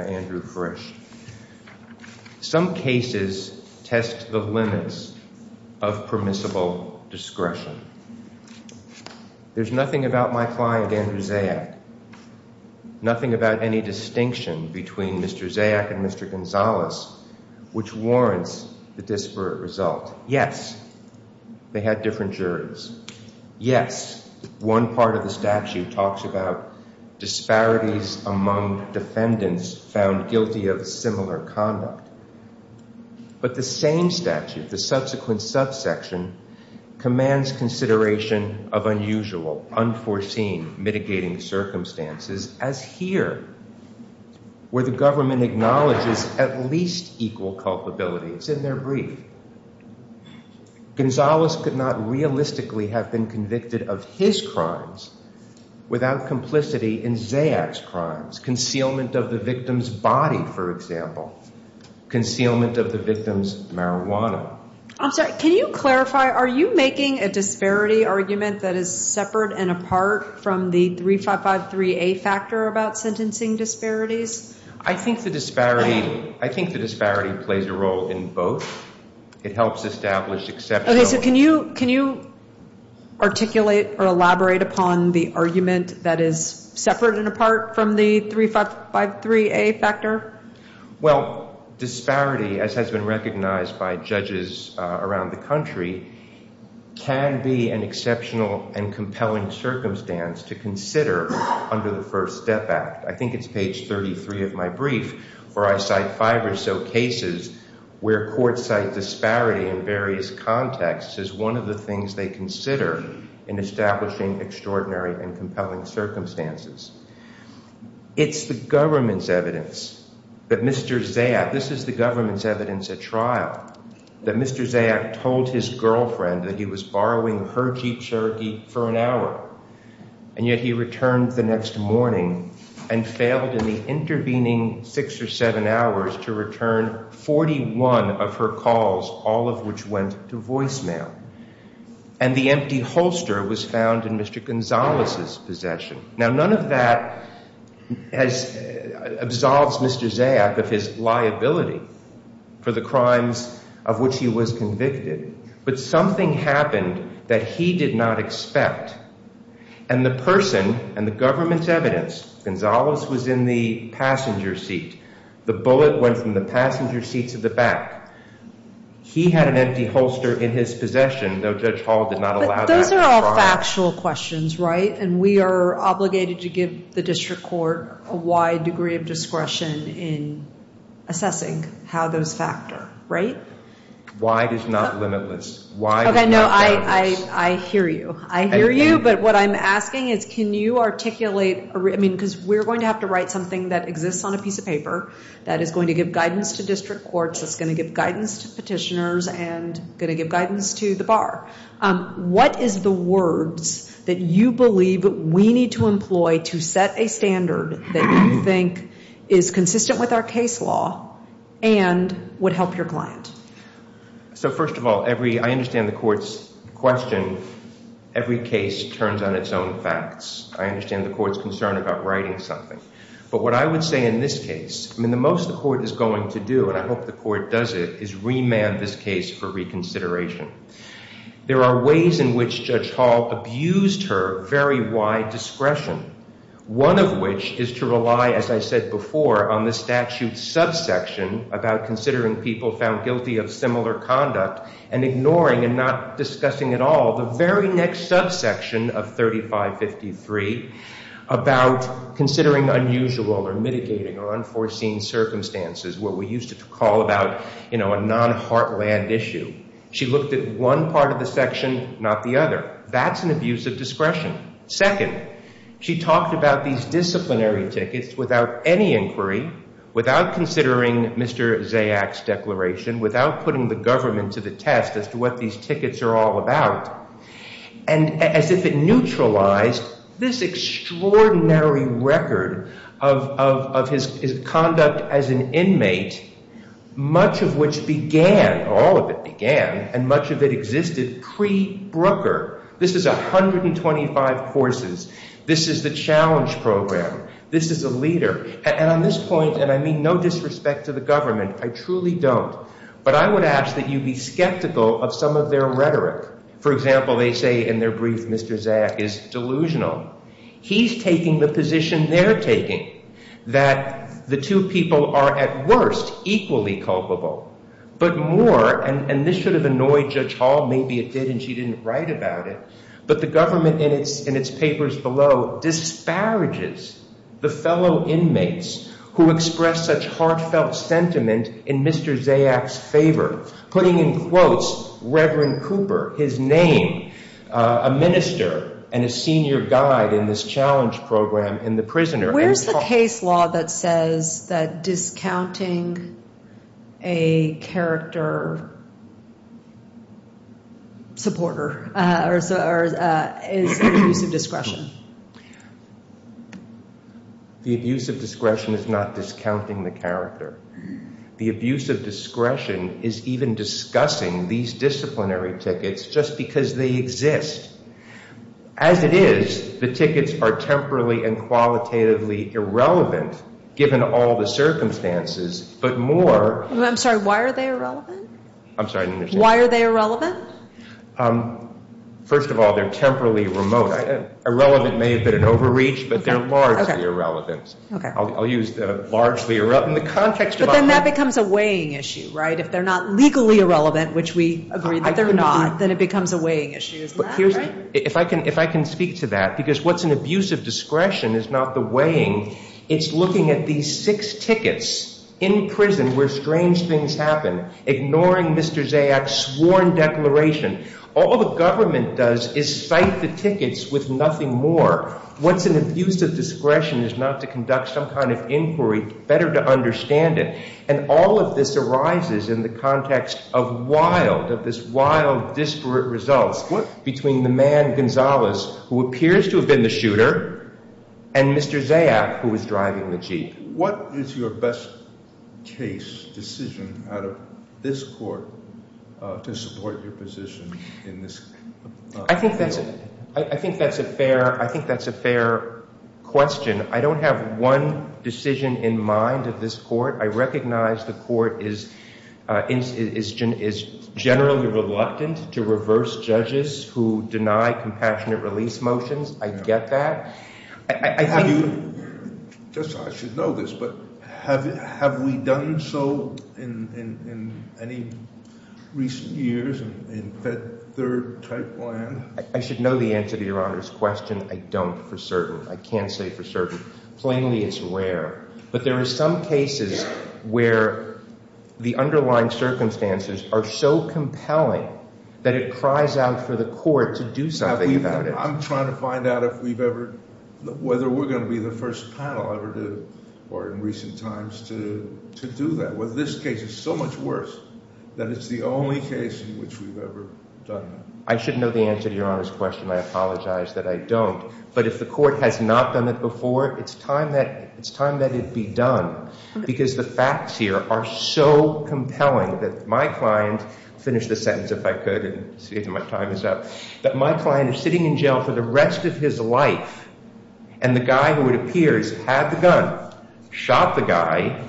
Andrew Frisch. Some cases test the limits of permissible discretion. There's nothing about my client, Andrew Zayac, nothing about any distinction between Mr. Zayac and Mr. Yes, one part of the statute talks about disparities among defendants found guilty of similar conduct. But the same statute, the subsequent subsection, commands consideration of unusual, unforeseen mitigating circumstances as here, where the government acknowledges at least equal culpability. It's in their brief. Gonzalez could not realistically have been convicted of his crimes without complicity in Zayac's crimes. Concealment of the victim's body, for example. Concealment of the victim's marijuana. I'm sorry, can you clarify, are you making a disparity argument that is separate and apart from the 3553A factor about sentencing disparities? I think the disparity, I think the disparity plays a role in both. It helps establish exceptional. Okay, so can you, can you articulate or elaborate upon the argument that is separate and apart from the 3553A factor? Well, disparity, as has been recognized by judges around the country, can be an exceptional and compelling circumstance to consider under the First Step Act. I think it's page 33 of my brief, for I cite five or so cases where courts cite disparity in various contexts as one of the things they consider in establishing extraordinary and compelling circumstances. It's the government's evidence that Mr. Zayac, this is the government's evidence at trial, that Mr. Zayac told his girlfriend that he was borrowing her Jeep Cherokee for an hour. And yet he returned the next morning and failed in the intervening six or seven hours to return 41 of her calls, all of which went to voicemail. And the empty holster was found in Mr. Gonzales' possession. Now, none of that has, absolves Mr. Zayac of his liability for the crimes of which he was convicted. But something happened that he did not expect. And the person and the government's evidence, Gonzales was in the passenger seat. The bullet went from the passenger seat to the back. He had an empty holster in his possession, though Judge Hall did not allow that at trial. But those are all factual questions, right? And we are obligated to give the district court a wide degree of discretion in assessing how those factor, right? Wide is not limitless. Wide is not limitless. OK, no, I hear you. I hear you. But what I'm asking is, can you articulate, I mean, because we're going to have to write something that exists on a piece of paper that is going to give guidance to district courts, that's going to give guidance to petitioners and going to give guidance to the bar. What is the words that you believe we need to employ to set a standard that you think is consistent with our case law and would help your client? So first of all, I understand the court's question. Every case turns on its own facts. I understand the court's concern about writing something. But what I would say in this case, I mean, the most the court is going to do, and I hope the court does it, is remand this case for reconsideration. There are ways in which Judge Hall abused her very wide discretion, one of which is to rely, as I said before, on the statute's subsection about considering people found guilty of similar conduct and ignoring and not discussing at all the very next subsection of 3553 about considering unusual or mitigating or unforeseen circumstances, what we used to call about, you know, a non-heartland issue. She looked at one part of the section, not the other. That's an abuse of discretion. This is 125 courses. This is the challenge program. This is a leader. And on this point, and I mean no disrespect to the government, I truly don't, but I would ask that you be skeptical of some of their rhetoric. For example, they say in their brief, Mr. Zayach is delusional. He's taking the position they're taking, that the two people are at worst equally culpable, but more, and this should have annoyed Judge Hall. Maybe it did, and she didn't write about it. But the government in its papers below disparages the fellow inmates who express such heartfelt sentiment in Mr. Zayach's favor, putting in quotes Reverend Cooper, his name, a minister, and a senior guide in this challenge program and the prisoner. Where's the case law that says that discounting a character supporter is an abuse of discretion? The abuse of discretion is not discounting the character. The abuse of discretion is even discussing these disciplinary tickets just because they exist. As it is, the tickets are temporally and qualitatively irrelevant, given all the circumstances, but more— I'm sorry, why are they irrelevant? I'm sorry, I didn't understand. Why are they irrelevant? First of all, they're temporally remote. Irrelevant may have been an overreach, but they're largely irrelevant. I'll use largely irrelevant. But then that becomes a weighing issue, right? If they're not legally irrelevant, which we agree that they're not, then it becomes a weighing issue, isn't that right? If I can speak to that, because what's an abuse of discretion is not the weighing, it's looking at these six tickets in prison where strange things happen, ignoring Mr. Zayach's sworn declaration. All the government does is cite the tickets with nothing more. What's an abuse of discretion is not to conduct some kind of inquiry, better to understand it. And all of this arises in the context of wild, of this wild, disparate results between the man, Gonzalez, who appears to have been the shooter, and Mr. Zayach, who was driving the jeep. What is your best case decision out of this court to support your position in this field? I think that's a fair question. I don't have one decision in mind of this court. I recognize the court is generally reluctant to reverse judges who deny compassionate release motions. I get that. Yes, I should know this, but have we done so in any recent years in Fed Third type land? I should know the answer to Your Honor's question. I don't for certain. I can't say for certain. Plainly, it's rare. But there are some cases where the underlying circumstances are so compelling that it cries out for the court to do something about it. I'm trying to find out if we've ever, whether we're going to be the first panel ever to, or in recent times, to do that. Well, this case is so much worse that it's the only case in which we've ever done that. I should know the answer to Your Honor's question. I apologize that I don't. But if the court has not done it before, it's time that it be done. Because the facts here are so compelling that my client, finish the sentence if I could and see if my time is up, that my client is sitting in jail for the rest of his life. And the guy who it appears had the gun, shot the guy,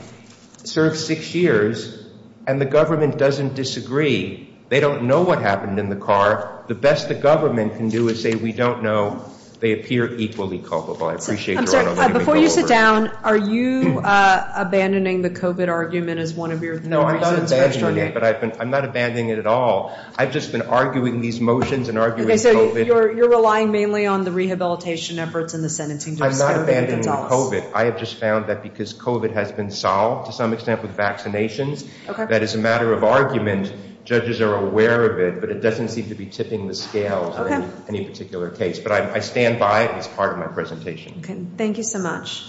served six years, and the government doesn't disagree. They don't know what happened in the car. The best the government can do is say, we don't know. They appear equally culpable. Before you sit down, are you abandoning the COVID argument as one of your reasons? No, I'm not abandoning it, but I've been, I'm not abandoning it at all. I've just been arguing these motions and arguing COVID. You're relying mainly on the rehabilitation efforts and the sentencing. I'm not abandoning COVID. I have just found that because COVID has been solved to some extent with vaccinations, that as a matter of argument, judges are aware of it. But it doesn't seem to be tipping the scales in any particular case. But I stand by it as part of my presentation. Okay. Thank you so much.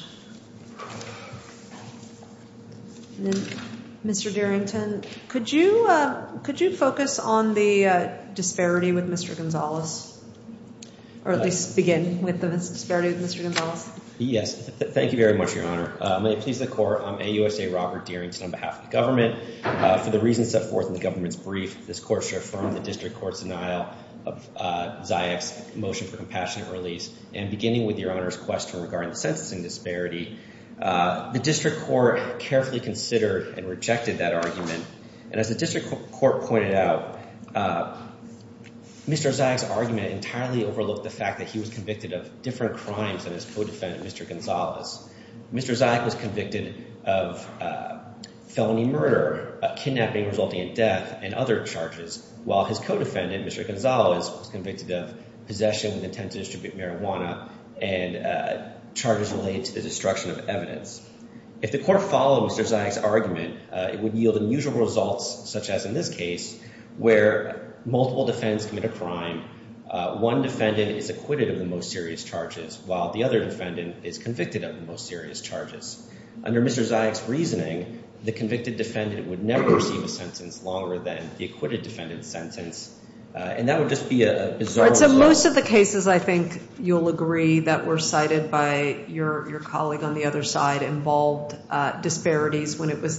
Mr. Darrington, could you focus on the disparity with Mr. Gonzales? Or at least begin with the disparity with Mr. Gonzales? Yes. Thank you very much, Your Honor. May it please the Court, I'm AUSA Robert Darrington on behalf of the government. For the reasons set forth in the government's brief, this Court should affirm the district court's denial of Zayach's motion for compassionate release. And beginning with Your Honor's question regarding the sentencing disparity, the district court carefully considered and rejected that argument. And as the district court pointed out, Mr. Zayach's argument entirely overlooked the fact that he was convicted of different crimes than his co-defendant, Mr. Gonzales. Mr. Zayach was convicted of felony murder, kidnapping resulting in death, and other charges, while his co-defendant, Mr. Gonzales, was convicted of possession with intent to distribute marijuana and charges related to the destruction of evidence. If the Court followed Mr. Zayach's argument, it would yield unusual results, such as in this case, where multiple defendants commit a crime, one defendant is acquitted of the most serious charges, while the other defendant is convicted of the most serious charges. Under Mr. Zayach's reasoning, the convicted defendant would never receive a sentence longer than the acquitted defendant's sentence, and that would just be a bizarre result. In most of the cases, I think you'll agree that were cited by your colleague on the other side involved disparities when it was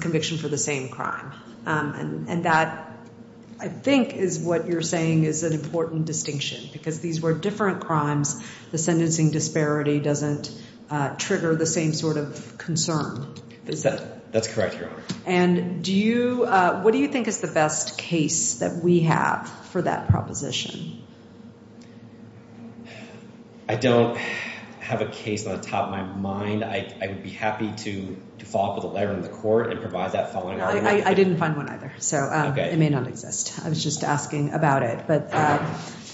conviction for the same crime. And that, I think, is what you're saying is an important distinction, because these were different crimes, the sentencing disparity doesn't trigger the same sort of concern. That's correct, Your Honor. And what do you think is the best case that we have for that proposition? I don't have a case on the top of my mind. I would be happy to follow up with a letter from the Court and provide that following argument. I didn't find one either, so it may not exist. I was just asking about it.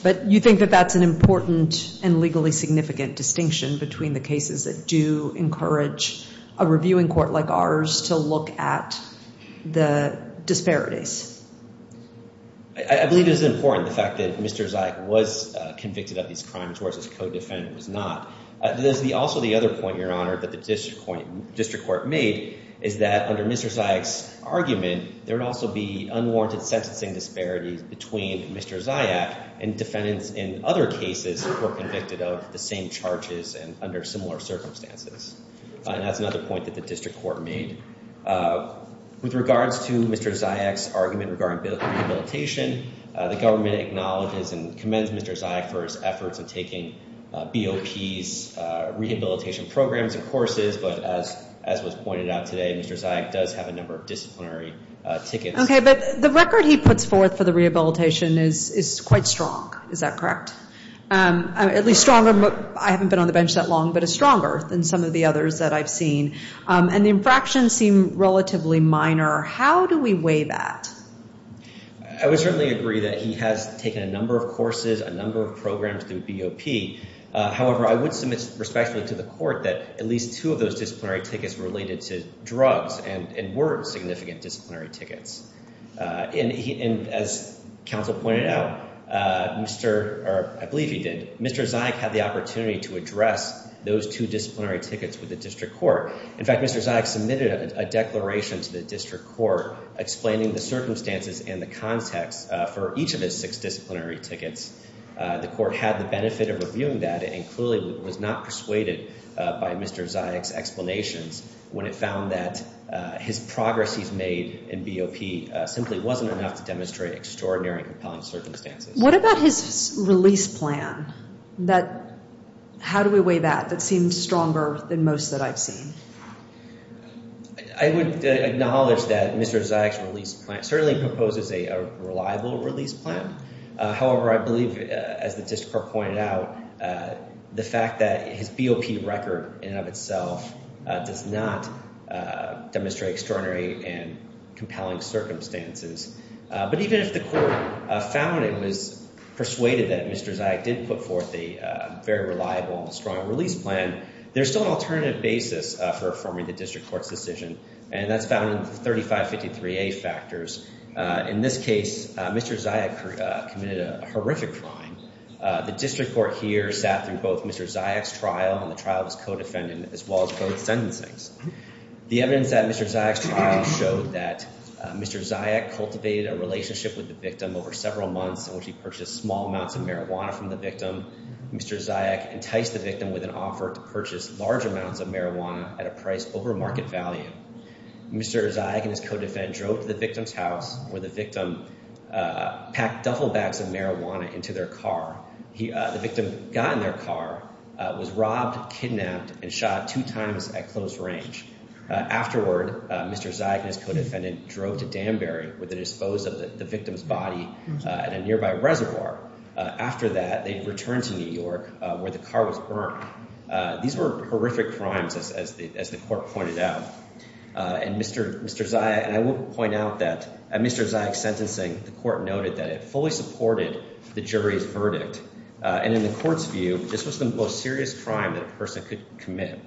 But you think that that's an important and legally significant distinction between the cases that do encourage a reviewing court like ours to look at the disparities? I believe it is important, the fact that Mr. Zayach was convicted of these crimes, whereas his co-defendant was not. There's also the other point, Your Honor, that the district court made, is that under Mr. Zayach's argument, there would also be unwarranted sentencing disparities between Mr. Zayach and defendants in other cases who were convicted of the same charges and under similar circumstances. And that's another point that the district court made. With regards to Mr. Zayach's argument regarding rehabilitation, the government acknowledges and commends Mr. Zayach for his efforts in taking BOP's rehabilitation programs and courses. But as was pointed out today, Mr. Zayach does have a number of disciplinary tickets. Okay, but the record he puts forth for the rehabilitation is quite strong. Is that correct? At least stronger. I haven't been on the bench that long, but it's stronger than some of the others that I've seen. And the infractions seem relatively minor. How do we weigh that? I would certainly agree that he has taken a number of courses, a number of programs through BOP. However, I would submit respectfully to the court that at least two of those disciplinary tickets were related to drugs and weren't significant disciplinary tickets. And as counsel pointed out, I believe he did, Mr. Zayach had the opportunity to address those two disciplinary tickets with the district court. In fact, Mr. Zayach submitted a declaration to the district court explaining the circumstances and the context for each of his six disciplinary tickets. The court had the benefit of reviewing that and clearly was not persuaded by Mr. Zayach's explanations when it found that his progress he's made in BOP simply wasn't enough to demonstrate extraordinary and compelling circumstances. What about his release plan? How do we weigh that? That seemed stronger than most that I've seen. I would acknowledge that Mr. Zayach's release plan certainly proposes a reliable release plan. However, I believe, as the district court pointed out, the fact that his BOP record in and of itself does not demonstrate extraordinary and compelling circumstances. But even if the court found and was persuaded that Mr. Zayach did put forth a very reliable and strong release plan, there's still an alternative basis for affirming the district court's decision, and that's found in the 3553A factors. In this case, Mr. Zayach committed a horrific crime. The district court here sat through both Mr. Zayach's trial and the trial of his co-defendant as well as both sentencings. The evidence at Mr. Zayach's trial showed that Mr. Zayach cultivated a relationship with the victim over several months in which he purchased small amounts of marijuana from the victim. Mr. Zayach enticed the victim with an offer to purchase large amounts of marijuana at a price over market value. Mr. Zayach and his co-defendant drove to the victim's house where the victim packed duffel bags of marijuana into their car. The victim got in their car, was robbed, kidnapped, and shot two times at close range. Afterward, Mr. Zayach and his co-defendant drove to Danbury where they disposed of the victim's body in a nearby reservoir. After that, they returned to New York where the car was burned. These were horrific crimes as the court pointed out. And Mr. Zayach, and I will point out that at Mr. Zayach's sentencing, the court noted that it fully supported the jury's verdict. And in the court's view, this was the most serious crime that a person could commit.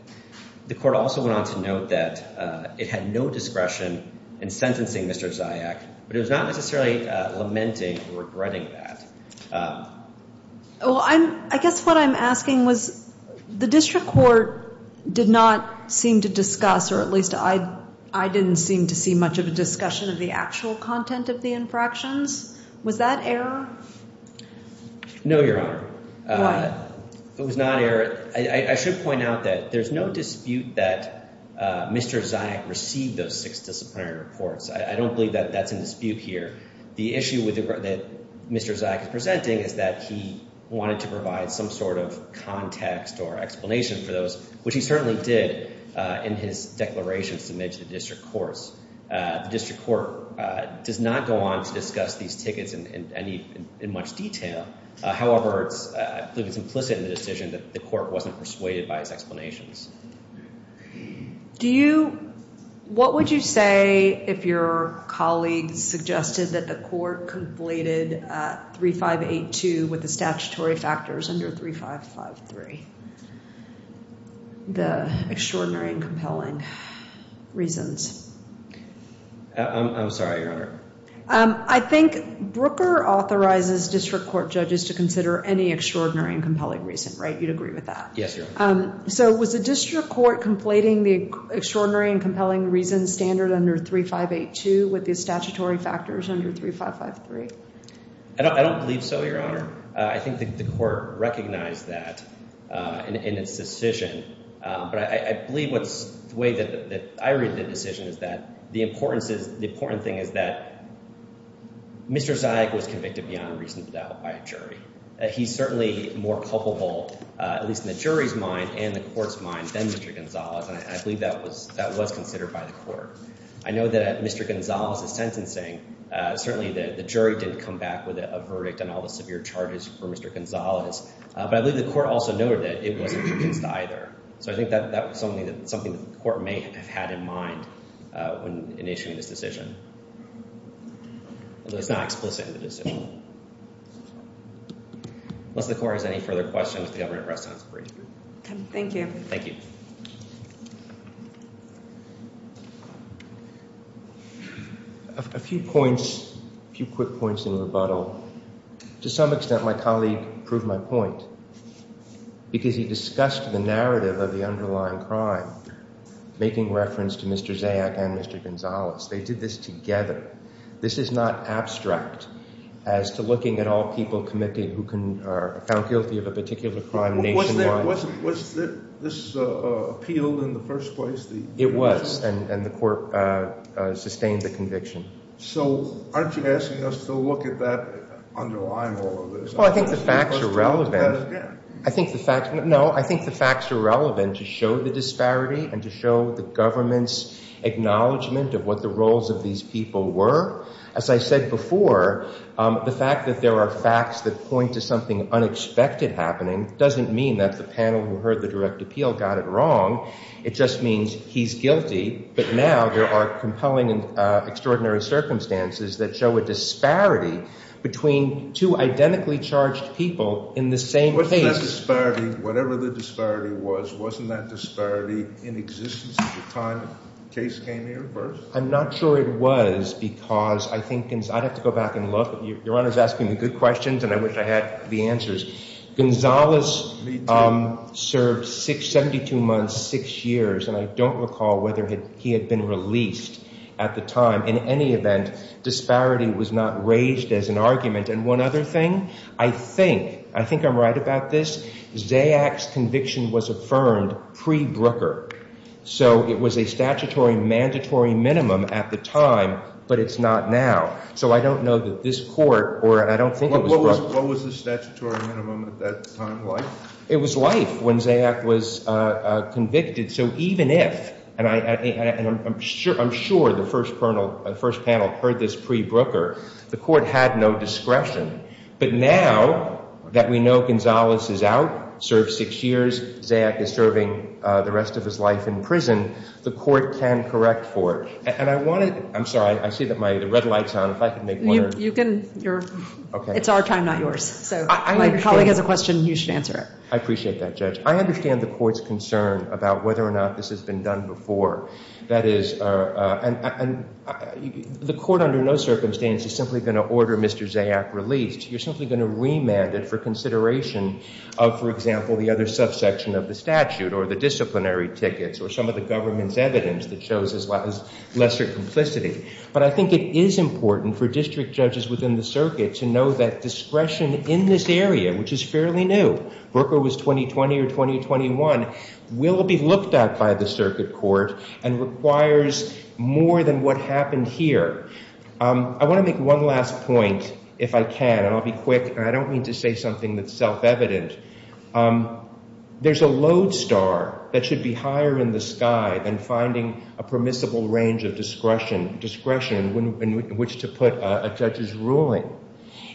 The court also went on to note that it had no discretion in sentencing Mr. Zayach, but it was not necessarily lamenting or regretting that. Well, I guess what I'm asking was the district court did not seem to discuss, or at least I didn't seem to see much of a discussion of the actual content of the infractions. Was that error? No, Your Honor. Why? It was not error. I should point out that there's no dispute that Mr. Zayach received those six disciplinary reports. I don't believe that that's in dispute here. The issue that Mr. Zayach is presenting is that he wanted to provide some sort of context or explanation for those, which he certainly did in his declaration submitted to the district courts. The district court does not go on to discuss these tickets in much detail. However, it's implicit in the decision that the court wasn't persuaded by his explanations. What would you say if your colleague suggested that the court completed 3582 with the statutory factors under 3553, the extraordinary and compelling reasons? I'm sorry, Your Honor. I think Brooker authorizes district court judges to consider any extraordinary and compelling reason, right? You'd agree with that? Yes, Your Honor. So was the district court completing the extraordinary and compelling reasons standard under 3582 with the statutory factors under 3553? I don't believe so, Your Honor. I think the court recognized that in its decision. But I believe the way that I read the decision is that the important thing is that Mr. Zayach was convicted beyond reasonable doubt by a jury. He's certainly more culpable, at least in the jury's mind and the court's mind, than Mr. Gonzalez. And I believe that was considered by the court. I know that Mr. Gonzalez is sentencing. Certainly the jury didn't come back with a verdict on all the severe charges for Mr. Gonzalez. But I believe the court also noted that it wasn't convinced either. So I think that was something that the court may have had in mind in issuing this decision. Although it's not explicit in the decision. Unless the court has any further questions, the government press conference is brief. Okay. Thank you. Thank you. A few points, a few quick points in rebuttal. To some extent, my colleague proved my point because he discussed the narrative of the underlying crime, making reference to Mr. Zayach and Mr. Gonzalez. They did this together. This is not abstract as to looking at all people convicted who are found guilty of a particular crime nationwide. Was this appealed in the first place? It was. And the court sustained the conviction. So aren't you asking us to look at that underlying all of this? Well, I think the facts are relevant. No, I think the facts are relevant to show the disparity and to show the government's acknowledgement of what the roles of these people were. As I said before, the fact that there are facts that point to something unexpected happening doesn't mean that the panel who heard the direct appeal got it wrong. It just means he's guilty. But now there are compelling and extraordinary circumstances that show a disparity between two identically charged people in the same case. Wasn't that disparity, whatever the disparity was, wasn't that disparity in existence at the time the case came here first? I'm not sure it was because I think – I'd have to go back and look. Your Honor is asking me good questions, and I wish I had the answers. Gonzales served 72 months, 6 years, and I don't recall whether he had been released at the time. In any event, disparity was not raised as an argument. And one other thing, I think – I think I'm right about this. Zayack's conviction was affirmed pre-Brooker. So it was a statutory mandatory minimum at the time, but it's not now. So I don't know that this court – or I don't think it was – It was life when Zayack was convicted. So even if – and I'm sure the first panel heard this pre-Brooker. The court had no discretion. But now that we know Gonzales is out, served 6 years, Zayack is serving the rest of his life in prison, the court can correct for it. And I wanted – I'm sorry. I see that my – the red light's on. If I could make one – You can – it's our time, not yours. So if my colleague has a question, you should answer it. I appreciate that, Judge. I understand the court's concern about whether or not this has been done before. That is – and the court under no circumstance is simply going to order Mr. Zayack released. You're simply going to remand it for consideration of, for example, the other subsection of the statute or the disciplinary tickets or some of the government's evidence that shows his lesser complicity. But I think it is important for district judges within the circuit to know that discretion in this area, which is fairly new, Brooker was 2020 or 2021, will be looked at by the circuit court and requires more than what happened here. I want to make one last point, if I can, and I'll be quick, and I don't mean to say something that's self-evident. There's a lodestar that should be higher in the sky than finding a permissible range of discretion in which to put a judge's ruling.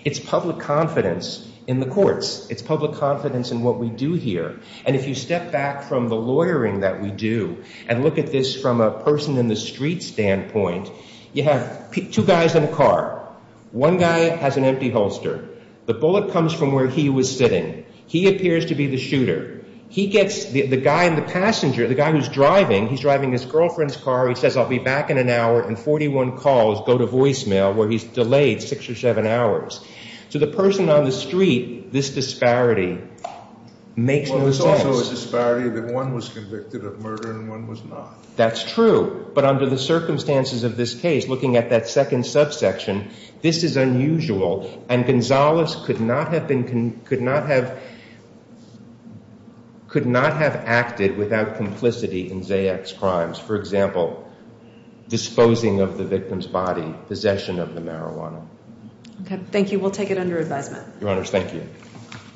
It's public confidence in the courts. It's public confidence in what we do here. And if you step back from the lawyering that we do and look at this from a person-in-the-street standpoint, you have two guys in a car. One guy has an empty holster. The bullet comes from where he was sitting. He appears to be the shooter. He gets the guy in the passenger, the guy who's driving. He's driving his girlfriend's car. He says, I'll be back in an hour. And 41 calls go to voicemail where he's delayed six or seven hours. So the person on the street, this disparity makes no sense. Well, there's also a disparity that one was convicted of murder and one was not. That's true. But under the circumstances of this case, looking at that second subsection, this is unusual. And Gonzalez could not have acted without complicity in Zayac's crimes. For example, disposing of the victim's body, possession of the marijuana. Okay, thank you. We'll take it under advisement. Your Honors, thank you.